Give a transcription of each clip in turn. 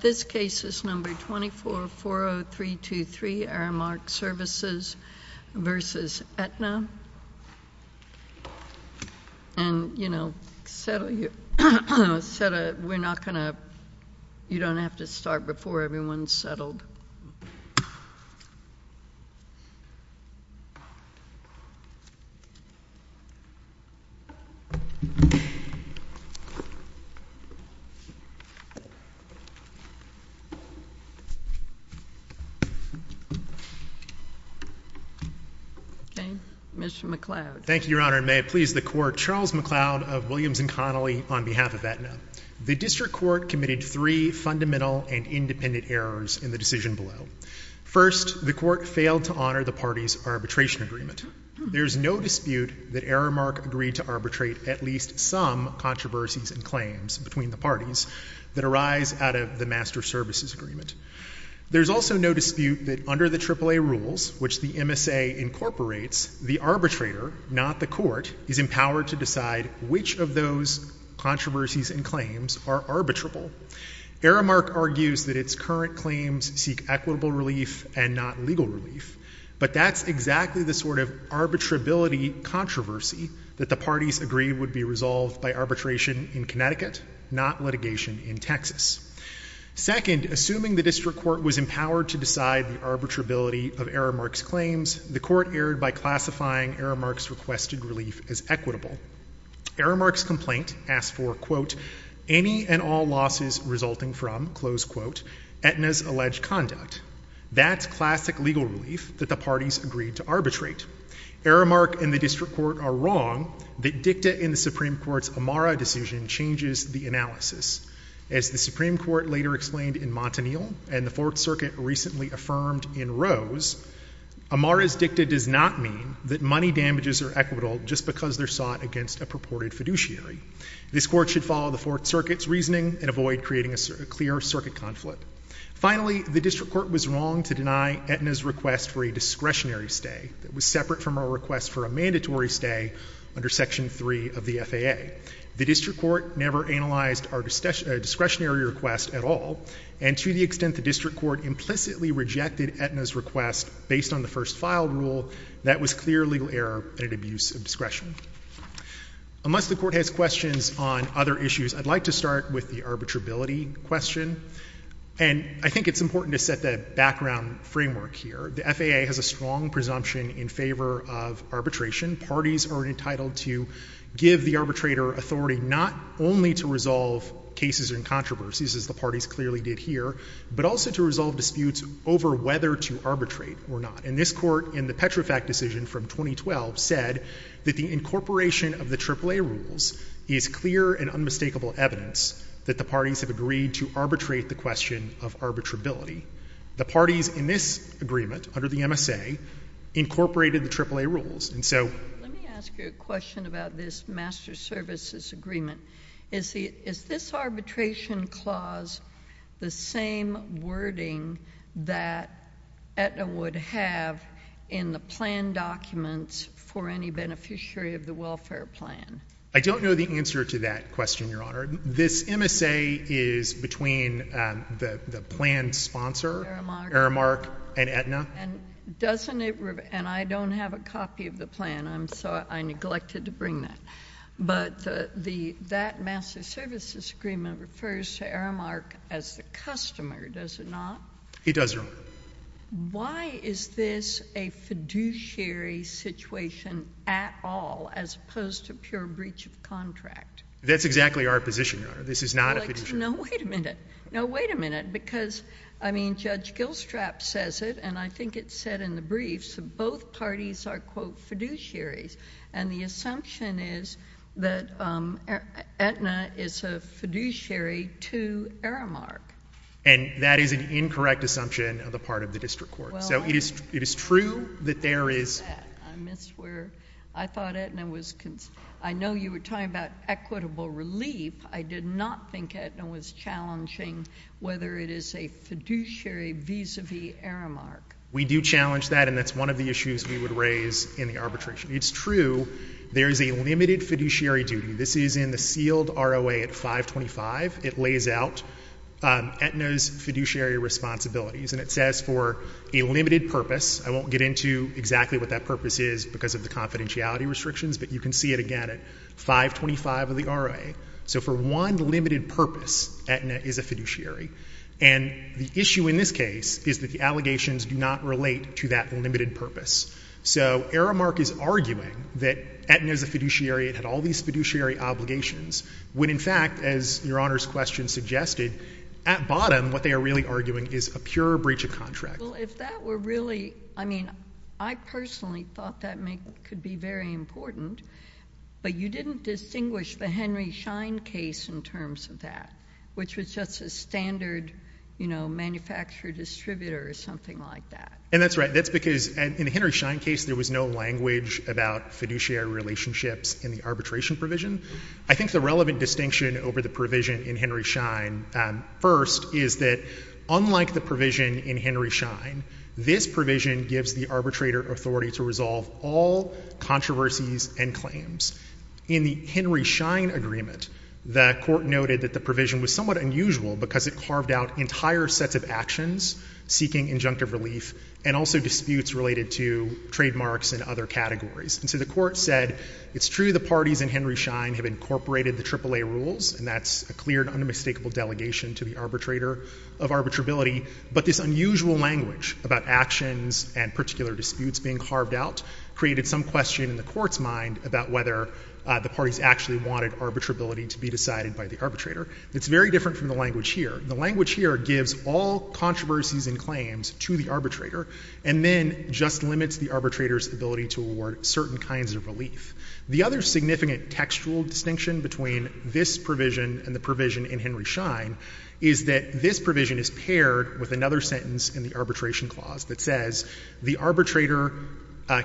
This case is number 2440323 Aramark Services v. Aetna and, you know, you don't have to worry about it, it's just a matter of time before everyone's settled. Mr. McLeod. Thank you, Your Honor, and may it please the Court, Charles McLeod of Williams and Connolly on behalf of Aetna. The district court committed three fundamental and independent errors in the decision below. First, the court failed to honor the party's arbitration agreement. There's no dispute that Aramark agreed to arbitrate at least some controversies and claims between the parties that arise out of the master services agreement. There's also no dispute that under the AAA rules, which the MSA incorporates, the arbitrator, not the court, is empowered to decide which of those controversies and claims are arbitrable. Aramark argues that its current claims seek equitable relief and not legal relief, but that's exactly the sort of arbitrability controversy that the parties agreed would be resolved by arbitration in Connecticut, not litigation in Texas. Second, assuming the district court was empowered to decide the arbitrability of Aramark's claims, the court erred by classifying Aramark's requested relief as equitable. Aramark's complaint asked for, quote, any and all losses resulting from, close quote, Aetna's alleged conduct. That's classic legal relief that the parties agreed to arbitrate. Aramark and the district court are wrong that dicta in the Supreme Court's Amara decision changes the analysis. As the Supreme Court later explained in Montanil and the Fourth Circuit recently affirmed in Rose, Amara's dicta does not mean that money damages are equitable just because they're sought against a purported fiduciary. This court should follow the Fourth Circuit's reasoning and avoid creating a clear circuit conflict. Finally, the district court was wrong to deny Aetna's request for a discretionary stay that was separate from her request for a mandatory stay under Section 3 of the FAA. The district court never analyzed our discretionary request at all, and to the extent the district court implicitly rejected Aetna's request based on the first file rule, that was clear legal error and an abuse of discretion. Unless the court has questions on other issues, I'd like to start with the arbitrability question. And I think it's important to set the background framework here. The FAA has a strong presumption in favor of arbitration. Parties are entitled to give the arbitrator authority not only to resolve cases and controversies, as the parties clearly did here, but also to resolve disputes over whether to arbitrate or not. And this court, in the Petrofac decision from 2012, said that the incorporation of the AAA rules is clear and unmistakable evidence that the parties have agreed to arbitrate the question of arbitrability. The parties in this agreement, under the MSA, incorporated the AAA rules. And so — JUSTICE SOTOMAYOR Let me ask you a question about this master services agreement. Is this arbitration clause the same wording that Aetna would have in the plan documents for any beneficiary of the welfare plan? MR. CLEMENT I don't know the answer to that question, Your Honor. This MSA is between the plan sponsor — MR. CLEMENT — Aramark and Aetna. JUSTICE SOTOMAYOR And doesn't it — and I don't have a copy of the plan, so I neglected to bring that. But the — that master services agreement refers to Aramark as the customer, does it not? MR. CLEMENT It does, Your Honor. JUSTICE SOTOMAYOR Why is this a fiduciary situation at all, as opposed to pure breach of contract? MR. CLEMENT That's exactly our position, Your Honor. This is not a fiduciary — JUSTICE SOTOMAYOR No, wait a minute. No, wait a minute. Because, I mean, Judge Gilstrap says it, and I think it's said in the briefs, both parties are, quote, fiduciaries. And the assumption is that Aetna is a fiduciary to Aramark. MR. CLEMENT And that is an incorrect assumption on the part of the district court. So it is true that there is — JUSTICE SOTOMAYOR I missed where — I thought Aetna was — I know you were talking about equitable relief. I did not think Aetna was challenging whether it is a fiduciary vis-a-vis Aramark. MR. CLEMENT We do challenge that, and that's one of the raised in the arbitration. It's true there is a limited fiduciary duty. This is in the sealed ROA at 525. It lays out Aetna's fiduciary responsibilities, and it says for a limited purpose. I won't get into exactly what that purpose is because of the confidentiality restrictions, but you can see it again at 525 of the ROA. So for one limited purpose, Aetna is a fiduciary. And the issue in this case is that the allegations do not relate to that limited purpose. So Aramark is arguing that Aetna is a fiduciary, it had all these fiduciary obligations, when in fact, as Your Honor's question suggested, at bottom what they are really arguing is a pure breach of contract. JUSTICE SOTOMAYOR Well, if that were really — I mean, I personally thought that could be very important, but you didn't distinguish the Henry Schein case in terms of that, which was just a standard, you know, manufacturer-distributor or something like that. And that's right. That's because in the Henry Schein case, there was no language about fiduciary relationships in the arbitration provision. I think the relevant distinction over the provision in Henry Schein, first, is that unlike the provision in Henry Schein, this provision gives the arbitrator authority to resolve all controversies and claims. In the Henry Schein agreement, the Court noted that the provision was somewhat unusual because it carved out entire sets of actions seeking injunctive relief and also disputes related to trademarks and other categories. And so the Court said it's true the parties in Henry Schein have incorporated the AAA rules, and that's a clear and unmistakable delegation to the arbitrator of arbitrability, but this unusual language about actions and particular disputes being carved out created some question in the Court's mind about whether the parties actually wanted arbitrability to be decided by the arbitrator. It's very different from the language here. The language here gives all controversies and claims to the arbitrator and then just limits the arbitrator's ability to award certain kinds of relief. The other significant textual distinction between this provision and the provision in Henry Schein is that this provision is paired with another sentence in the Arbitration Clause that says the arbitrator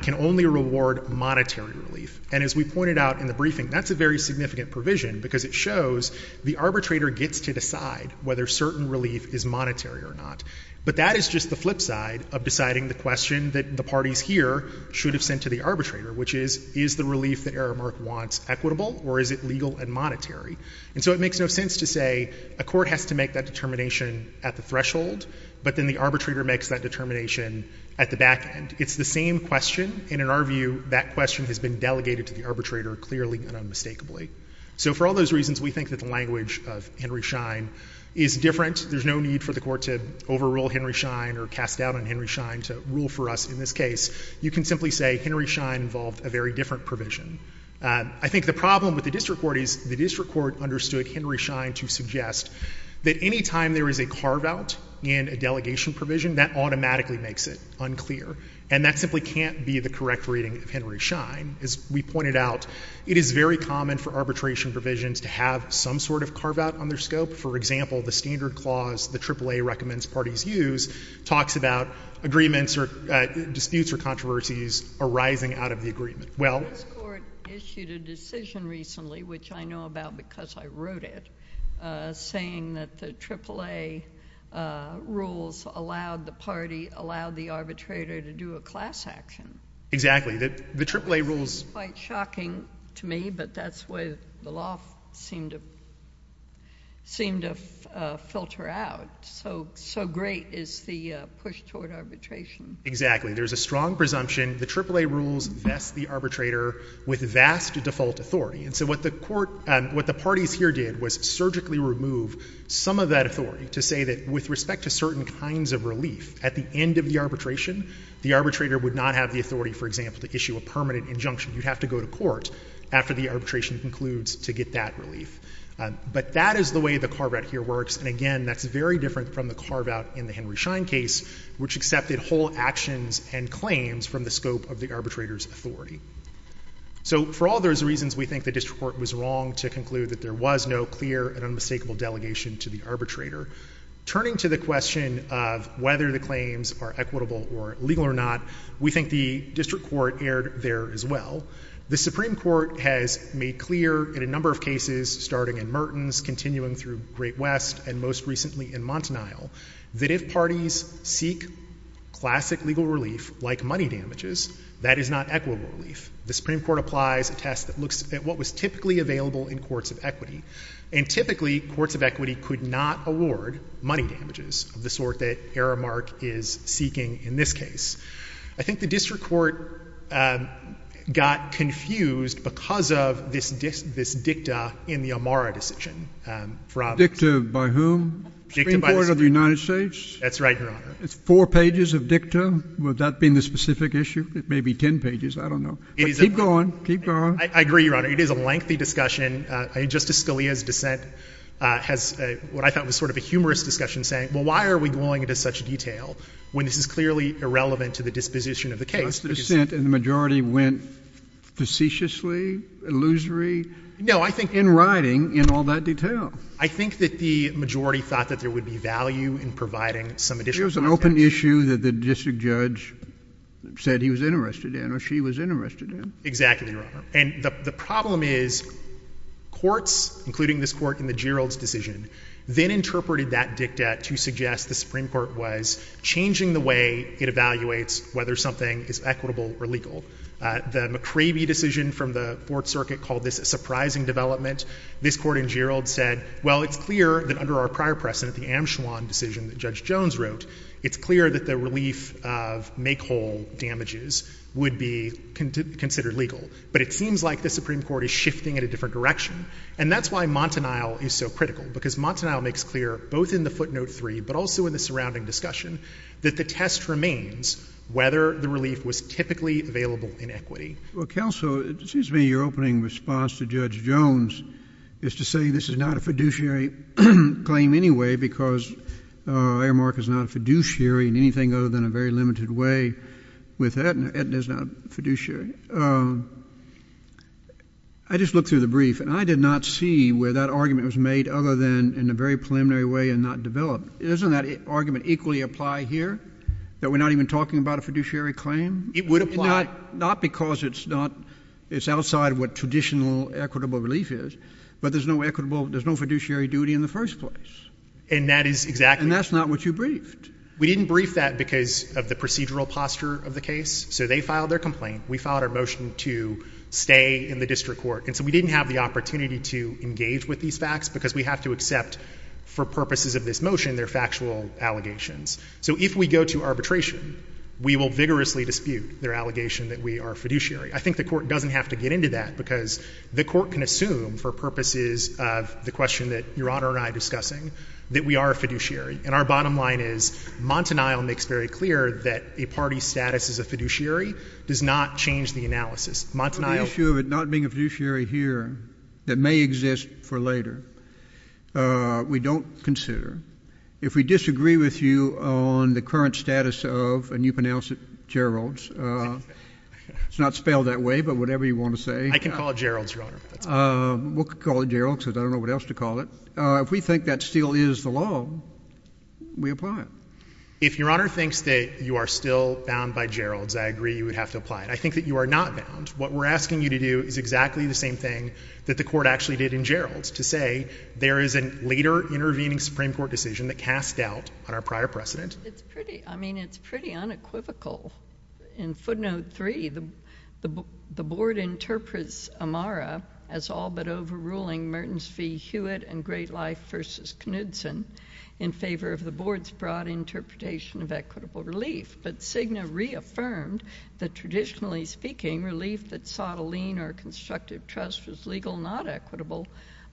can only reward monetary relief. And as we pointed out in the briefing, that's a very significant provision because it shows the arbitrator gets to decide whether certain relief is monetary or not. But that is just the flip side of deciding the question that the parties here should have sent to the arbitrator, which is, is the relief that Aramark wants equitable or is it legal and monetary? And so it makes no sense to say a court has to make that determination at the threshold, but then the arbitrator makes that determination at the back end. It's the same question, and in our view, that question has been delegated to the arbitrator clearly and unmistakably. So for all those reasons, we think that the language of Henry Schein is different. There's no need for the Court to overrule Henry Schein or cast doubt on Henry Schein to rule for us in this case. You can simply say Henry Schein involved a very different provision. I think the problem with the district court is the district court understood Henry Schein to suggest that any time there is a carve-out in a delegation provision, that automatically makes it unclear. And that simply can't be the correct reading of Henry Schein. As we pointed out, it is very common for arbitration provisions to have some sort of carve-out on their scope. For example, the standard clause the AAA recommends parties use talks about agreements or disputes or controversies arising out of the agreement. Well — This Court issued a decision recently, which I know about because I wrote it, saying that the AAA rules allowed the party — allowed the arbitrator to do a class action. Exactly. The AAA rules — Which is quite shocking to me, but that's the way the law seemed to — seemed to filter out. So — so great is the push toward arbitration. Exactly. There's a strong presumption the AAA rules vest the arbitrator with vast default authority. And so what the court — what the parties here did was surgically remove some of that authority to say that with respect to certain kinds of relief, at the end of the arbitration, the arbitrator would not have the authority, for example, to issue a permanent injunction. You'd have to go to court after the arbitration concludes to get that relief. But that is the way the carve-out here works. And again, that's very different from the carve-out in the Henry Schein case, which accepted whole actions and claims from the scope of the arbitrator's authority. So, for all those reasons, we think the district court was wrong to conclude that there was no clear and unmistakable delegation to the arbitrator. Turning to the question of whether the claims are equitable or illegal or not, we think the district court erred there as well. The Supreme Court has made clear in a number of cases, starting in Mertens, continuing through Great West, and most recently in Montanile, that if parties seek classic legal relief, like money damages, that is not equitable relief. The Supreme Court applies a test that looks at what was typically available in courts of equity. And typically, courts of equity could not award money damages of the sort that Aramark is seeking in this case. I think the district court got confused because of this dicta in the Amara decision. JUSTICE KENNEDY Dicta by whom? MR. GOLDSMITH Dicta by the Supreme Court. Supreme Court of the United States? MR. GOLDSMITH That's right, Your Honor. Four pages of dicta? Would that be the specific issue? It may be 10 pages, I don't know. It is. Keep going. Keep going. I agree, Your Honor. It is a lengthy discussion. Justice Scalia's dissent has what I thought was sort of a humorous discussion, saying, well, why are we going into such detail when this is clearly irrelevant to the disposition of the case? But the dissent in the majority went facetiously, illusory, in writing, in all that detail. I think that the majority thought that there would be value in providing some additional It was an open issue that the district judge said he was interested in or she was interested in. Exactly, Your Honor. And the problem is courts, including this court in the Geralds decision, then interpreted that dicta to suggest the Supreme Court was changing the way it evaluates whether something is equitable or legal. The McCravey decision from the Fourth Circuit called this a surprising development. This court in Geralds said, well, it's clear that under our prior precedent, the Amschewan decision that Judge Jones wrote, it's clear that the relief of make-whole damages would be considered legal. But it seems like the Supreme Court is shifting at a different direction. And that's why Montanile is so critical, because Montanile makes clear, both in the footnote 3, but also in the surrounding discussion, that the test remains whether the relief was typically available in equity. Well, counsel, it seems to me your opening response to Judge Jones is to say this is not a fiduciary claim anyway, because Aramark is not a fiduciary in anything other than a very limited way with Aetna. Aetna is not a fiduciary. I just looked through the brief, and I did not see where that argument was made other than in a very preliminary way and not developed. Doesn't that argument equally apply here, that we're not even talking about a fiduciary claim? It would apply. Not because it's outside what traditional equitable relief is, but there's no fiduciary duty in the first place. And that is exactly— And that's not what you briefed. We didn't brief that because of the procedural posture of the case. So they filed their complaint. We filed our motion to stay in the district court. And so we didn't have the opportunity to engage with these facts, because we have to accept, for purposes of this motion, their factual allegations. So if we go to arbitration, we will vigorously dispute their allegation that we are a fiduciary. I think the Court doesn't have to get into that, because the Court can assume, for purposes of the question that Your Honor and I are discussing, that we are a fiduciary. And our bottom line is, Montanile makes very clear that a party's status as a fiduciary does not change the analysis. Montanile— On the issue of it not being a fiduciary here that may exist for later, we don't consider. If we disagree with you on the current status of—and you pronounce it Gerald's. It's not spelled that way, but whatever you want to say. I can call it Gerald's, Your Honor. We'll call it Gerald's, because I don't know what else to call it. If we think that still is the law, we apply it. If Your Honor thinks that you are still bound by Gerald's, I agree you would have to apply it. I think that you are not bound. What we're asking you to do is exactly the same thing that the Court actually did in Gerald's, to say there is a later intervening Supreme Court decision that casts doubt on our prior precedent. It's pretty unequivocal. In footnote 3, the Board interprets Amara as all but overruling Mertens v. Hewitt and Great Life v. Knudsen in favor of the Board's broad interpretation of equitable relief. But Cigna reaffirmed that, traditionally speaking, relief that sought a lean or constructive trust was legal, not equitable,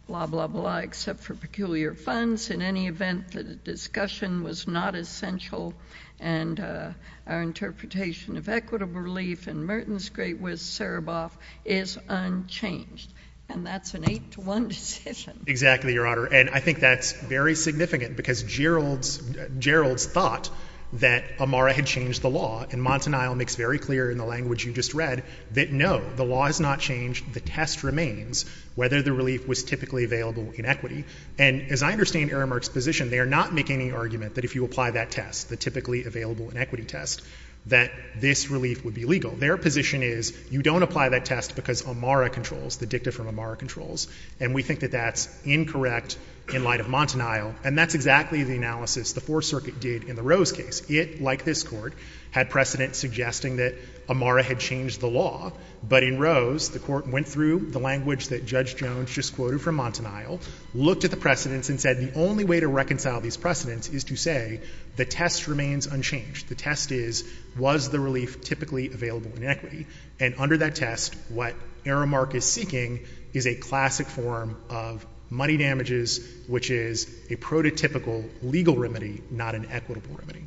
blah, blah, blah, except for peculiar funds in any event that a discussion was not essential, and our interpretation of equitable relief in Mertens, Great Wist, Sereboff is unchanged. And that's an 8-to-1 decision. Exactly, Your Honor. And I think that's very significant, because Gerald's thought that Amara had changed the law, and Montanile makes very clear in the language you just read that no, the law has not changed. The test remains whether the relief was typically available in equity. And as I understand Aramark's position, they are not making any argument that if you apply that test, the typically available in equity test, that this relief would be legal. Their position is you don't apply that test because Amara controls, the dicta from Amara controls. And we think that that's incorrect in light of Montanile. And that's exactly the analysis the Fourth Circuit did in the Rose case. It, like this Court, had precedent suggesting that Amara had changed the law. But in Rose, the Court went through the language that Judge Jones just quoted from Montanile, looked at the precedents, and said the only way to reconcile these precedents is to say the test remains unchanged. The test is, was the relief typically available in equity? And under that test, what Aramark is seeking is a classic form of money damages, which is a prototypical legal remedy, not an equitable remedy.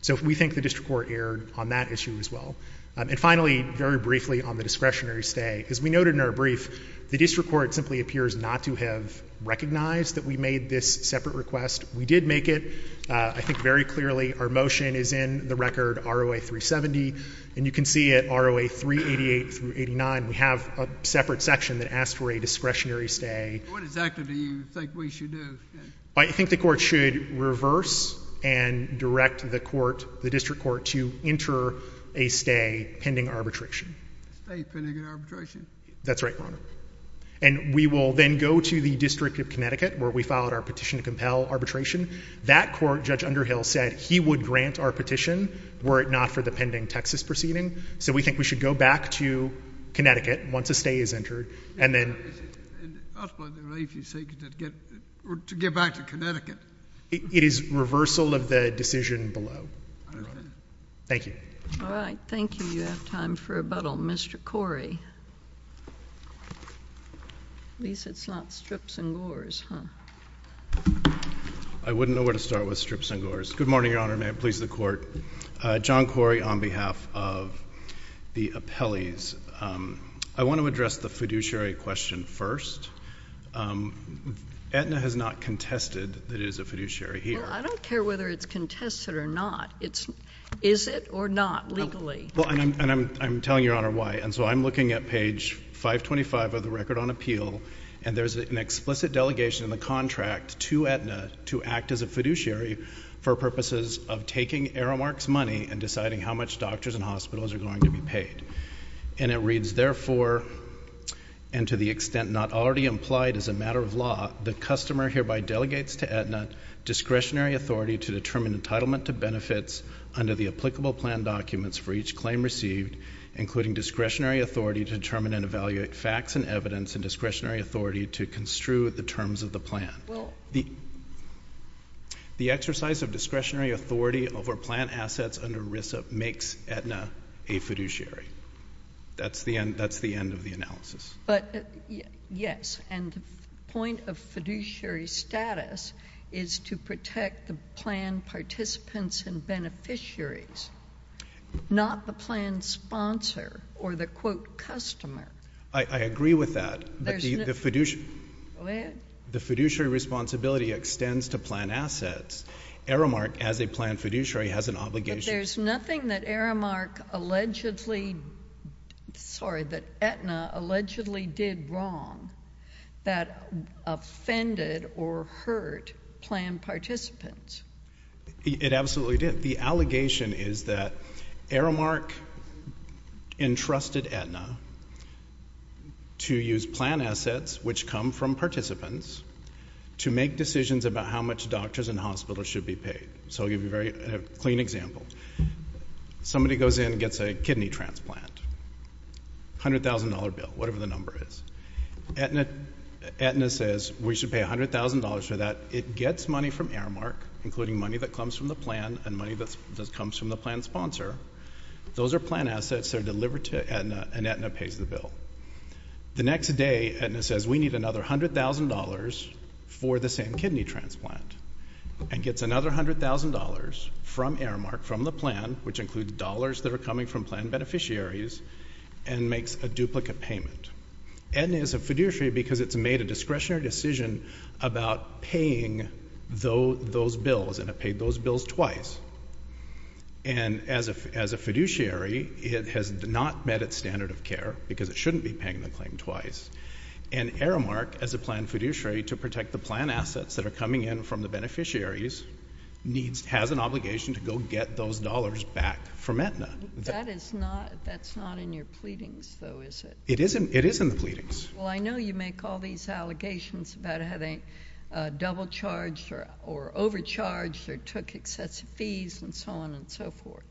So we think the district court erred on that issue as well. And finally, very briefly on the discretionary stay. As we noted in our brief, the district court simply appears not to have recognized that we made this separate request. We did make it. I think very clearly our motion is in the record ROA 370. And you can see at ROA 388 through 89, we have a separate section that asks for a discretionary stay. What exactly do you think we should do? I think the court should reverse and direct the court, the district court, to enter a stay pending arbitration. A stay pending arbitration? That's right, Your Honor. And we will then go to the District of Connecticut, where we filed our petition to compel arbitration. That court, Judge Underhill, said he would grant our petition were it not for the pending Texas proceeding. So we think we should go back to Connecticut once a stay is entered. And ultimately, the relief you're seeking is to get back to Connecticut. It is reversal of the decision below. I understand. Thank you. All right. Thank you. You have time for rebuttal. Mr. Corey. At least it's not strips and gores, huh? I wouldn't know where to start with strips and gores. Good morning, Your Honor. May it please the Court. John Corey on behalf of the appellees. I want to address the fiduciary question first. Aetna has not contested that it is a fiduciary here. Well, I don't care whether it's contested or not. Is it or not, legally? Well, and I'm telling Your Honor why. And so I'm looking at page 525 of the Record on Appeal, and there's an explicit delegation in the contract to Aetna to act as a fiduciary for purposes of taking Aramark's money and deciding how much doctors and hospitals are going to be paid. And it reads, therefore, and to the extent not already implied as a discretionary authority to determine entitlement to benefits under the applicable plan documents for each claim received, including discretionary authority to determine and evaluate facts and evidence, and discretionary authority to construe the terms of the plan. Well— The exercise of discretionary authority over plant assets under RISA makes Aetna a fiduciary. That's the end of the analysis. But, yes, and the point of fiduciary status is to protect the plan participants and beneficiaries, not the plan sponsor or the, quote, customer. I agree with that, but the fiduciary— Go ahead. The fiduciary responsibility extends to plant assets. Aramark, as a plan fiduciary, has an obligation— There's nothing that Aramark allegedly—sorry, that Aetna allegedly did wrong that offended or hurt plan participants. It absolutely did. The allegation is that Aramark entrusted Aetna to use plant assets, which come from participants, to make decisions about how much doctors and hospitals should be paid. So I'll give you a very clean example. Somebody goes in and gets a kidney transplant, $100,000 bill, whatever the number is. Aetna says, we should pay $100,000 for that. It gets money from Aramark, including money that comes from the plan and money that comes from the plan sponsor. Those are plant assets that are delivered to Aetna, and Aetna pays the bill. The next day, Aetna says, we need another $100,000 for the same kidney transplant and gets another $100,000 from Aramark, from the plan, which includes dollars that are coming from plan beneficiaries, and makes a duplicate payment. Aetna is a fiduciary because it's made a discretionary decision about paying those bills, and it paid those bills twice. And as a fiduciary, it has not met its standard of care because it shouldn't be paying the claim twice. And Aramark, as a plan fiduciary, to protect the plan assets that are coming in from the beneficiaries, has an obligation to go get those dollars back from Aetna. That's not in your pleadings, though, is it? It is in the pleadings. Well, I know you make all these allegations about having double-charged or overcharged or took excessive fees and so on and so forth.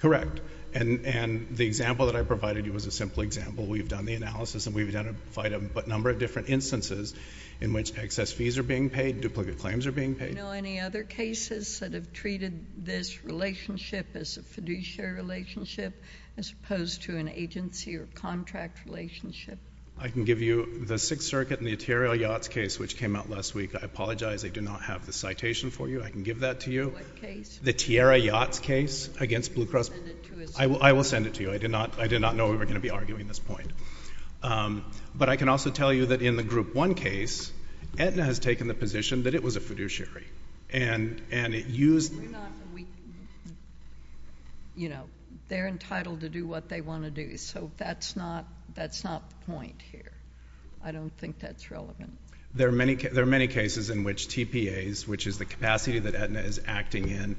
Correct. And the example that I provided you was a simple example. We've done the analysis, and we've identified a number of different instances in which excess fees are being paid, duplicate claims are being paid. Do you know any other cases that have treated this relationship as a fiduciary relationship as opposed to an agency or contract relationship? I can give you the Sixth Circuit and the Tierra Yachts case, which came out last week. I apologize. I do not have the citation for you. I can give that to you. What case? The Tierra Yachts case against Blue Cross. I will send it to you. I did not know we were going to be arguing this point. But I can also tell you that in the Group 1 case, Aetna has taken the position that it was a fiduciary. And it used— We're not—you know, they're entitled to do what they want to do. So that's not the point here. I don't think that's relevant. There are many cases in which TPAs, which is the capacity that Aetna is acting in,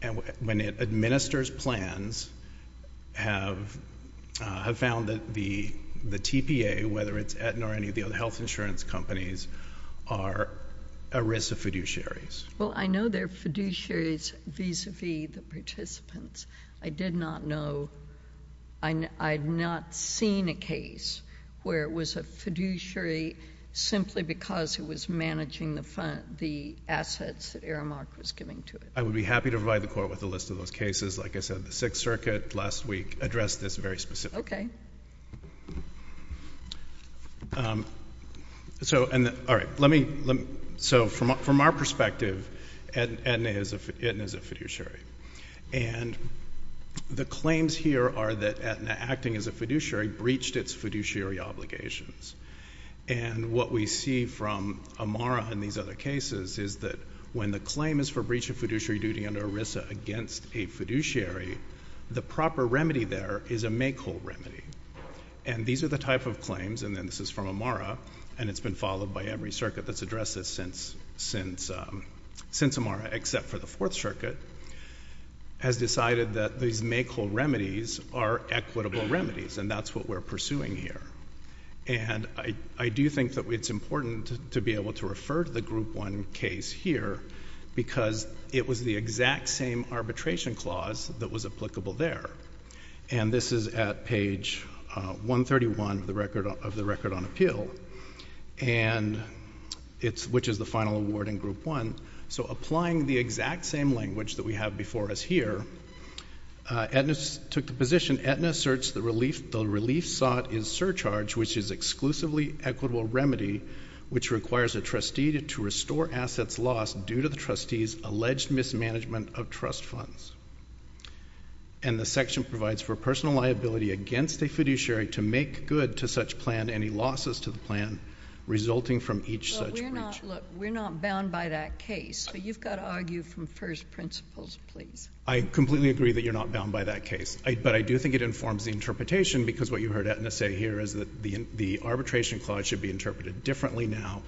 and when it administers plans, have found that the TPA, whether it's Aetna or any of the other health insurance companies, are a risk of fiduciaries. Well, I know they're fiduciaries vis-à-vis the participants. I did not know. I've not seen a case where it was a fiduciary simply because it was managing the assets that Aramark was giving to it. I would be happy to provide the Court with a list of those cases. Like I said, the Sixth Circuit last week addressed this very specifically. So from our perspective, Aetna is a fiduciary. And the claims here are that Aetna, acting as a fiduciary, breached its fiduciary obligations. And what we see from Amara and these other cases is that when the claim is for breach of fiduciary duty under ERISA against a fiduciary, the proper remedy there is a make-whole remedy. And these are the type of claims, and then this is from Amara, and it's been followed by every circuit that's addressed this since Amara except for the Fourth Circuit, has decided that these make-whole remedies are equitable remedies, and that's what we're pursuing here. And I do think that it's important to be able to refer to the Group 1 case here because it was the exact same arbitration clause that was applicable there. And this is at page 131 of the record on appeal, which is the final award in Group 1. So applying the exact same language that we have before us here, Aetna took the position, Aetna asserts the relief sought is surcharge, which is exclusively equitable remedy, which requires a trustee to restore assets lost due to the trustee's alleged mismanagement of trust funds. And the section provides for personal liability against a fiduciary to make good to such plan any losses to the plan resulting from each such breach. But we're not bound by that case, so you've got to argue from first principles, please. I completely agree that you're not bound by that case. But I do think it informs the interpretation because what you heard Aetna say here is that the arbitration clause should be interpreted differently now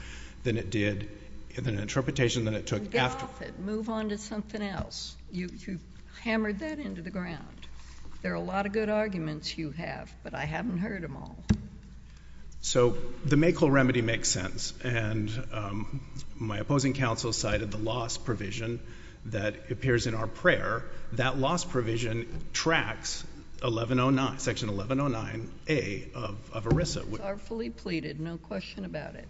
than it did in an interpretation that it took after. Move on to something else. You hammered that into the ground. There are a lot of good arguments you have, but I haven't heard them all. So the make-whole remedy makes sense. And my opposing counsel cited the loss provision that appears in our prayer. That loss provision tracks Section 1109A of ERISA. It's artfully pleaded. No question about it.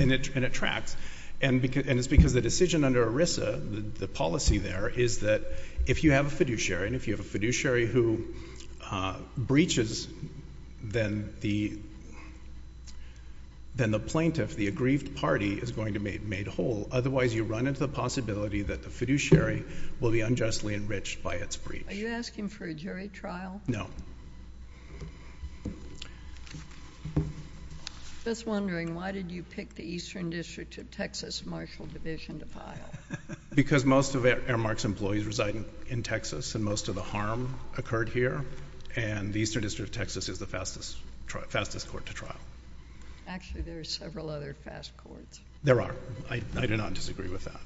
And it tracks. And it's because the decision under ERISA, the policy there, is that if you have a fiduciary, and if you have a fiduciary who breaches, then the plaintiff, the aggrieved party, is going to be made whole. Otherwise, you run into the possibility that the fiduciary will be unjustly enriched by its breach. Are you asking for a jury trial? No. Just wondering, why did you pick the Eastern District of Texas Marshal Division to file? Because most of Airmark's employees reside in Texas, and most of the harm occurred here. And the Eastern District of Texas is the fastest court to trial. Actually, there are several other fast courts. There are. I do not disagree with that.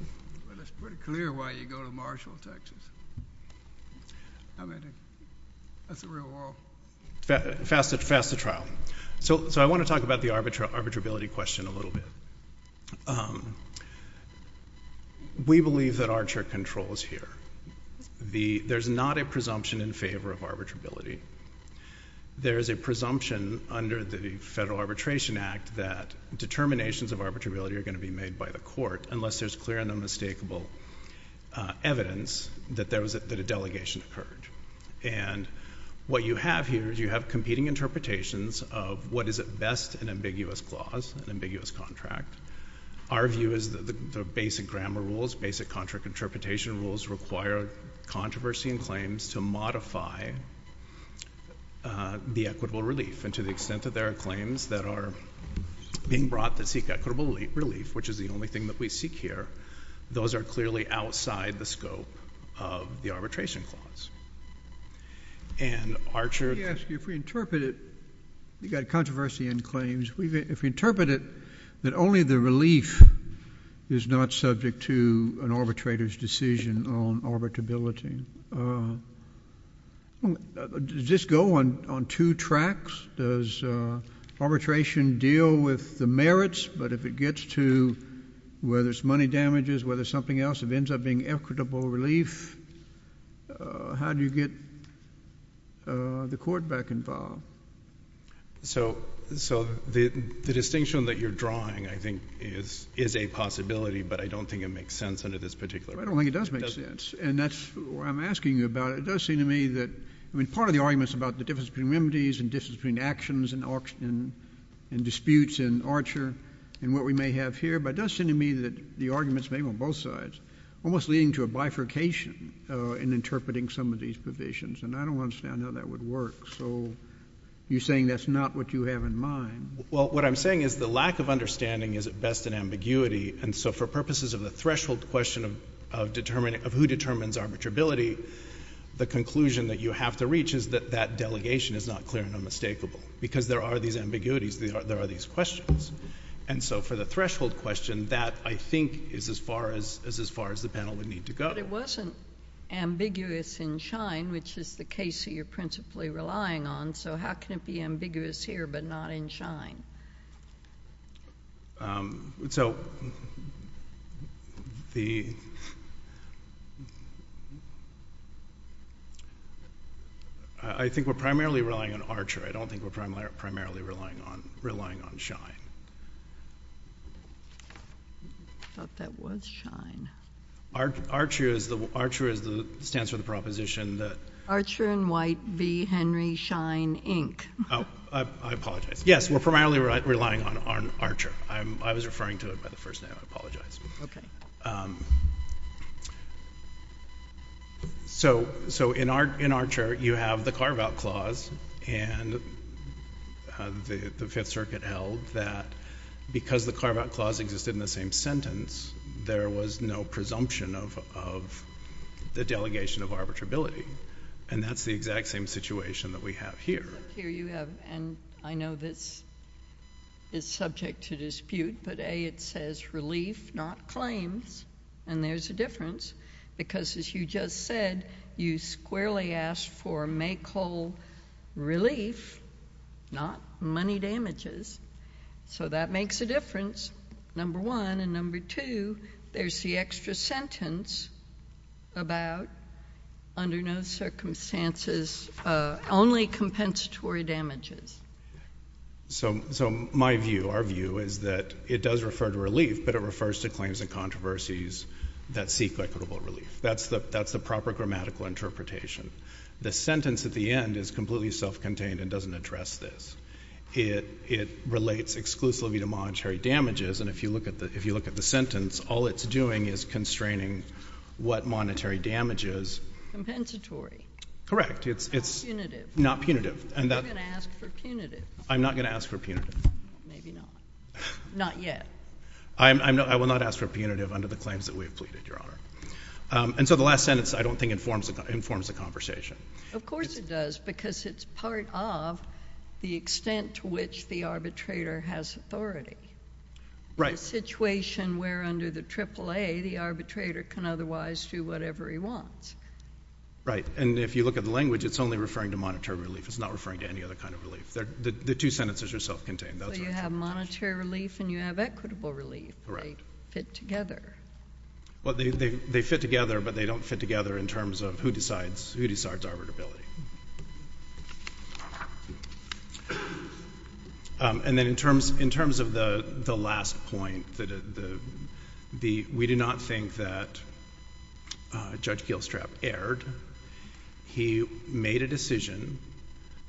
Well, it's pretty clear why you go to Marshall, Texas. I mean, that's the real world. Fast to trial. So I want to talk about the arbitrability question a little bit. We believe that Archer controls here. There's not a presumption in favor of arbitrability. There is a presumption under the Federal Arbitration Act that determinations of arbitrability are going to be made by the court, unless there's clear and unmistakable evidence that a delegation occurred. And what you have here is you have competing interpretations of what is at best an ambiguous clause, an ambiguous contract. Our view is that the basic grammar rules, basic contract interpretation rules, require controversy and claims to modify the equitable relief. And to the extent that there are claims that are being brought that seek equitable relief, which is the only thing that we seek here, those are clearly outside the scope of the arbitration clause. And Archer? Let me ask you, if we interpret it, you've got controversy and claims. If we interpret it that only the relief is not subject to an arbitrator's decision on arbitrability, does this go on two tracks? Does arbitration deal with the merits, but if it gets to where there's money damages, where there's something else that ends up being equitable relief, how do you get the court back involved? So the distinction that you're drawing, I think, is a possibility, but I don't think it makes sense under this particular rule. I don't think it does make sense, and that's why I'm asking you about it. It does seem to me that, I mean, part of the arguments about the difference between remedies and difference between actions and disputes in Archer and what we may have here, but it does seem to me that the arguments may be on both sides, almost leading to a bifurcation in interpreting some of these provisions, and I don't understand how that would work. So you're saying that's not what you have in mind? Well, what I'm saying is the lack of understanding is at best an ambiguity, and so for purposes of the threshold question of determining who determines arbitrability, the conclusion that you have to reach is that that delegation is not clear and unmistakable, because there are these ambiguities, there are these questions. And so for the threshold question, that, I think, is as far as the panel would need to go. But it wasn't ambiguous in Schein, which is the case that you're principally relying on, so how can it be ambiguous here but not in Schein? So I think we're primarily relying on Archer. I don't think we're primarily relying on Schein. I thought that was Schein. Archer stands for the proposition that— Archer and White v. Henry Schein, Inc. Oh, I apologize. Yes, we're primarily relying on Archer. I was referring to it by the first name. So in Archer, you have the carve-out clause, and the Fifth Circuit held that because the carve-out clause existed in the same sentence, there was no presumption of the delegation of arbitrability, and that's the exact same situation that we have here. Here you have—and I know this is subject to dispute, but, A, it says relief, not claims, and there's a difference because, as you just said, you squarely asked for make-whole relief, not money damages. So that makes a difference, number one. And number two, there's the extra sentence about under no circumstances, only compensatory damages. So my view, our view, is that it does refer to relief, but it refers to claims and controversies that seek equitable relief. That's the proper grammatical interpretation. The sentence at the end is completely self-contained and doesn't address this. It relates exclusively to monetary damages, and if you look at the sentence, all it's doing is constraining what monetary damage is. Compensatory. Correct. Punitive. Not punitive. You're going to ask for punitive. I'm not going to ask for punitive. Maybe not. Not yet. I will not ask for punitive under the claims that we have pleaded, Your Honor. And so the last sentence, I don't think, informs the conversation. Of course it does because it's part of the extent to which the arbitrator has authority. Right. A situation where under the AAA, the arbitrator can otherwise do whatever he wants. Right. And if you look at the language, it's only referring to monetary relief. It's not referring to any other kind of relief. The two sentences are self-contained. So you have monetary relief and you have equitable relief. Correct. They fit together. Well, they fit together, but they don't fit together in terms of who decides arbitrability. And then in terms of the last point, we do not think that Judge Gielstrap erred. He made a decision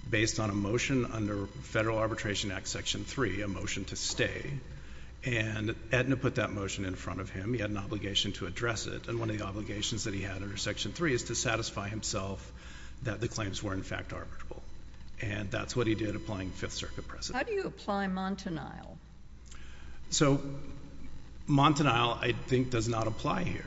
based on a motion under Federal Arbitration Act Section 3, a motion to stay. And Aetna put that motion in front of him. He had an obligation to address it. And one of the obligations that he had under Section 3 is to satisfy himself that the claims were, in fact, arbitrable. And that's what he did applying Fifth Circuit precedent. How do you apply Montanile? So Montanile, I think, does not apply here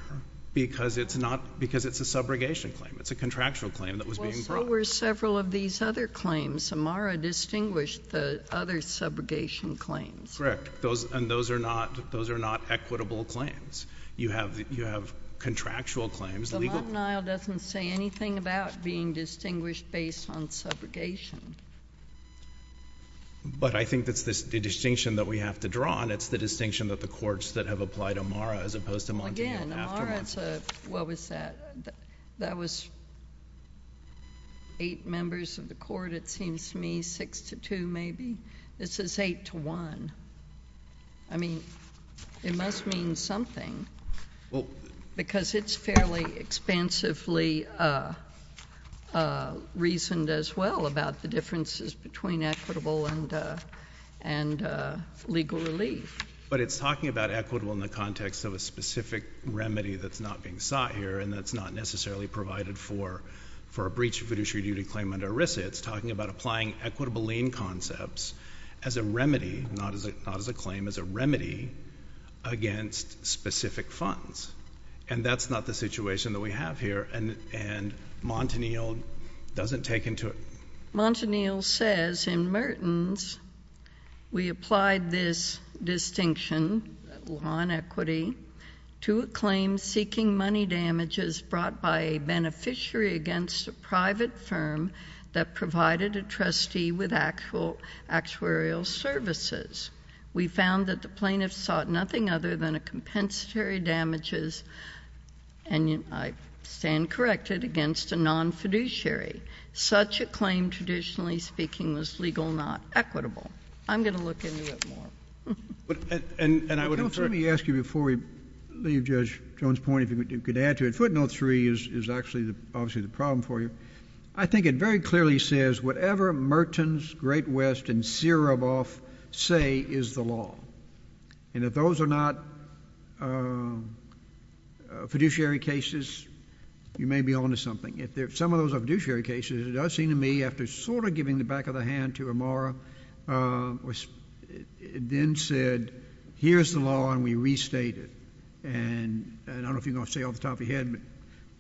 because it's a subrogation claim. It's a contractual claim that was being brought. Well, so were several of these other claims. Amara distinguished the other subrogation claims. Correct. And those are not equitable claims. You have contractual claims. The Montanile doesn't say anything about being distinguished based on subrogation. But I think that's the distinction that we have to draw, and it's the distinction that the courts that have applied Amara as opposed to Montanile. Again, Amara, what was that? That was eight members of the court, it seems to me, six to two maybe. This is eight to one. I mean, it must mean something because it's fairly expansively reasoned as well about the differences between equitable and legal relief. But it's talking about equitable in the context of a specific remedy that's not being sought here and that's not necessarily provided for a breach of fiduciary duty claim under ERISA. It's talking about applying equitable lien concepts as a remedy, not as a claim, as a remedy against specific funds. And that's not the situation that we have here, and Montanile doesn't take into it. Montanile says in Mertens, we applied this distinction, law and equity, to a claim seeking money damages brought by a beneficiary against a private firm that provided a trustee with actuarial services. We found that the plaintiff sought nothing other than a compensatory damages, and I stand corrected, against a non-fiduciary. Such a claim, traditionally speaking, was legal, not equitable. I'm going to look into it more. And I would infer — Let me ask you before we leave Judge Jones' point, if you could add to it. Footnote 3 is actually obviously the problem for you. I think it very clearly says whatever Mertens, Great West, and Siraboff say is the law. And if those are not fiduciary cases, you may be on to something. If some of those are fiduciary cases, it does seem to me, after sort of giving the back of the hand to Amara, which then said, here's the law, and we restate it. And I don't know if you're going to stay off the top of your head,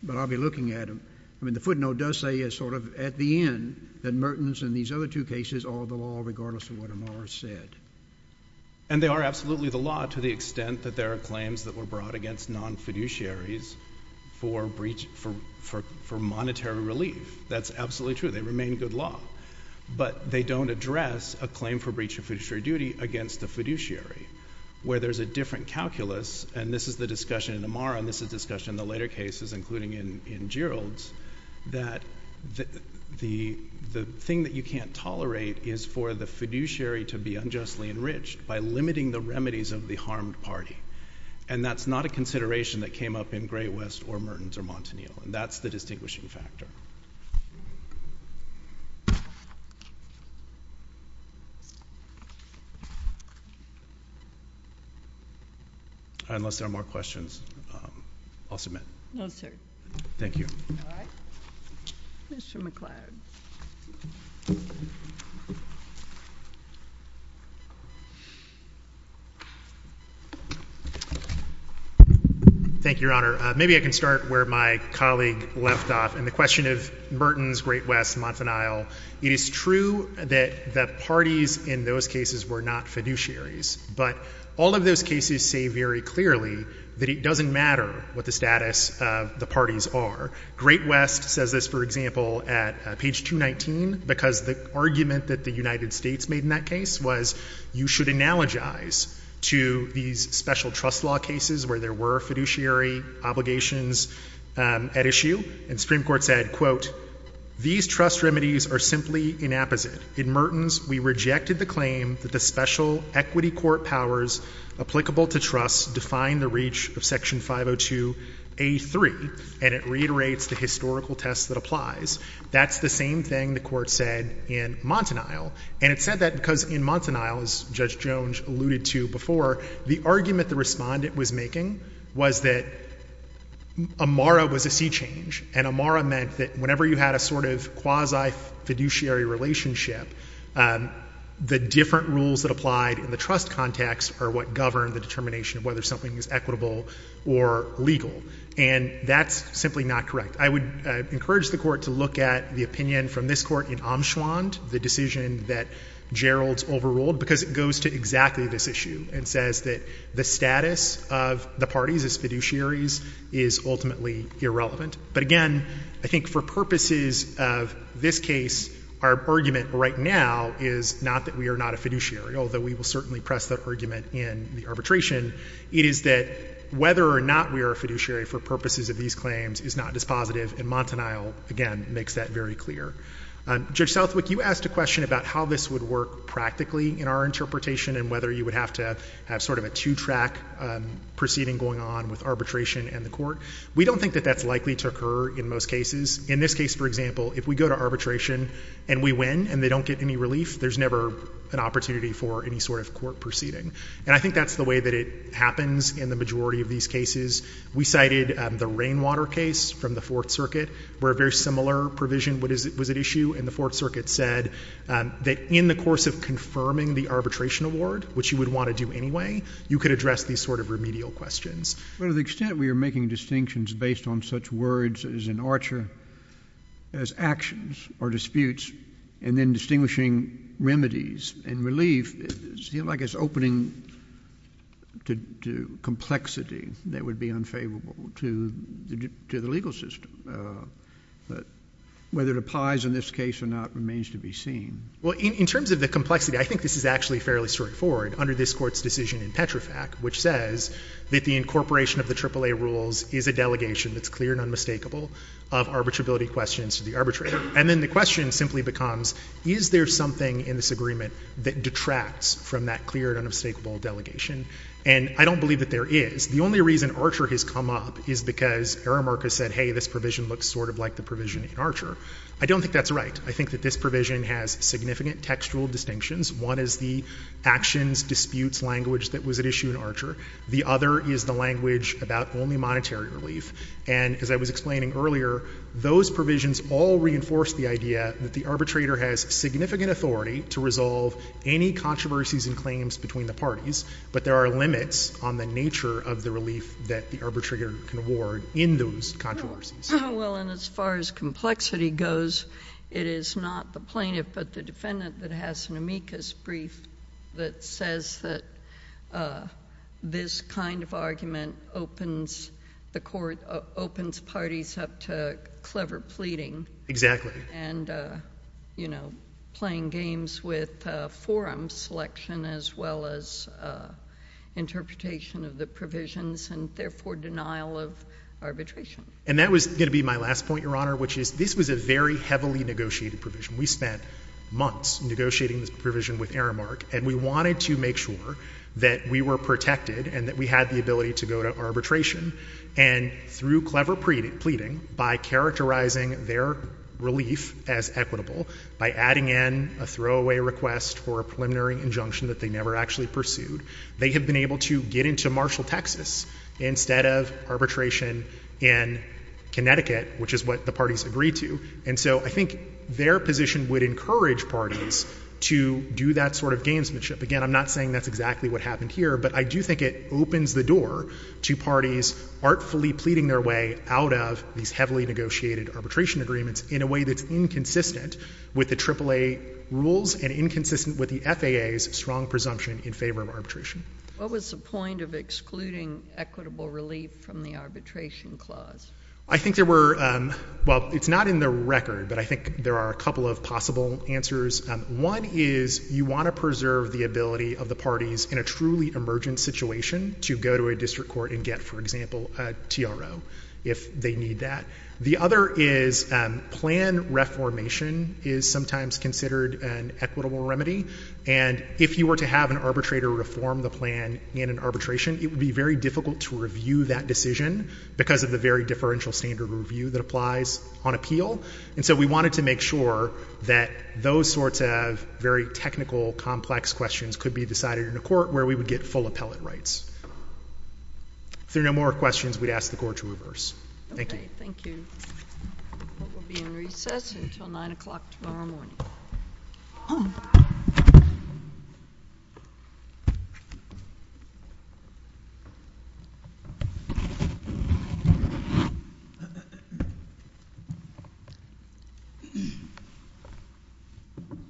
but I'll be looking at them. I mean, the footnote does say sort of at the end that Mertens and these other two cases are the law, regardless of what Amara said. And they are absolutely the law to the extent that there are claims that were brought against non-fiduciaries for monetary relief. That's absolutely true. They remain good law. But they don't address a claim for breach of fiduciary duty against a fiduciary, where there's a different calculus. And this is the discussion in Amara, and this is the discussion in the later cases, including in Gerald's, that the thing that you can't tolerate is for the fiduciary to be unjustly enriched by limiting the remedies of the harmed party. And that's not a consideration that came up in Great West or Mertens or Montanil. And that's the distinguishing factor. Unless there are more questions, I'll submit. No, sir. Thank you. All right. Mr. McCloud. Thank you, Your Honor. Maybe I can start where my colleague left off in the question of Mertens, Great West, Montanil. It is true that the parties in those cases were not fiduciaries. But all of those cases say very clearly that it doesn't matter what the status of the parties are. Great West says this, for example, at page 219, because the argument that the United States made in that case was you should analogize to these special trust law cases where there were fiduciary obligations at issue. And the Supreme Court said, quote, these trust remedies are simply inapposite. In Mertens, we rejected the claim that the special equity court powers applicable to trust define the reach of Section 502A3. And it reiterates the historical test that applies. That's the same thing the court said in Montanil. And it said that because in Montanil, as Judge Jones alluded to before, the argument the respondent was making was that AMARA was a sea change. And AMARA meant that whenever you had a sort of quasi-fiduciary relationship, the different rules that applied in the trust context are what govern the determination of whether something is equitable or legal. And that's simply not correct. I would encourage the Court to look at the opinion from this Court in Amschwand, the decision that Geralds overruled, because it goes to exactly this issue and says that the status of the parties as fiduciaries is ultimately irrelevant. But again, I think for purposes of this case, our argument right now is not that we are not a fiduciary, although we will certainly press that argument in the arbitration. It is that whether or not we are a fiduciary for purposes of these claims is not dispositive. And Montanil, again, makes that very clear. Judge Southwick, you asked a question about how this would work practically in our interpretation and whether you would have to have sort of a two-track proceeding going on with arbitration and the court. We don't think that that's likely to occur in most cases. In this case, for example, if we go to arbitration and we win and they don't get any relief, there's never an opportunity for any sort of court proceeding. And I think that's the way that it happens in the majority of these cases. We cited the Rainwater case from the Fourth Circuit, where a very similar provision was at issue. And the Fourth Circuit said that in the course of confirming the arbitration award, which you would want to do anyway, you could address these sort of remedial questions. But to the extent we are making distinctions based on such words as an archer, as actions or disputes, and then distinguishing remedies and relief, it seems like it's opening to complexity that would be unfavorable to the legal system. But whether it applies in this case or not remains to be seen. Well, in terms of the complexity, I think this is actually fairly straightforward under this Court's decision in Petrofac, which says that the incorporation of the AAA rules is a delegation that's clear and unmistakable of arbitrability questions to the arbitrator. And then the question simply becomes, is there something in this agreement that detracts from that clear and unmistakable delegation? And I don't believe that there is. The only reason Archer has come up is because Aramark has said, hey, this provision looks sort of like the provision in Archer. I don't think that's right. I think that this provision has significant textual distinctions. One is the actions, disputes language that was at issue in Archer. The other is the language about only monetary relief. And as I was explaining earlier, those provisions all reinforce the idea that the arbitrator has significant authority to resolve any controversies and claims between the parties, but there are limits on the nature of the relief that the arbitrator can award in those controversies. Well, and as far as complexity goes, it is not the plaintiff but the defendant that has an amicus brief that says that this kind of argument opens parties up to clever pleading. Exactly. And, you know, playing games with forum selection as well as interpretation of the provisions and therefore denial of arbitration. And that was going to be my last point, Your Honor, which is this was a very heavily negotiated provision. We spent months negotiating this provision with Aramark, and we wanted to make sure that we were protected and that we had the ability to go to arbitration. And through clever pleading, by characterizing their relief as equitable, by adding in a throwaway request for a preliminary injunction that they never actually pursued, they have been able to get into Marshall, Texas, instead of arbitration in Connecticut, which is what the parties agreed to. And so I think their position would encourage parties to do that sort of gamesmanship. Again, I'm not saying that's exactly what happened here, but I do think it opens the door to parties artfully pleading their way out of these heavily negotiated arbitration agreements in a way that's inconsistent with the AAA rules and inconsistent with the FAA's strong presumption in favor of arbitration. What was the point of excluding equitable relief from the arbitration clause? I think there were—well, it's not in the record, but I think there are a couple of possible answers. One is you want to preserve the ability of the parties in a truly emergent situation to go to a district court and get, for example, a TRO if they need that. The other is plan reformation is sometimes considered an equitable remedy. And if you were to have an arbitrator reform the plan in an arbitration, it would be very difficult to review that decision because of the very differential standard review that applies on appeal. And so we wanted to make sure that those sorts of very technical, complex questions could be decided in a court where we would get full appellate rights. If there are no more questions, we'd ask the Court to reverse. Thank you. Thank you. We'll be in recess until 9 o'clock tomorrow morning.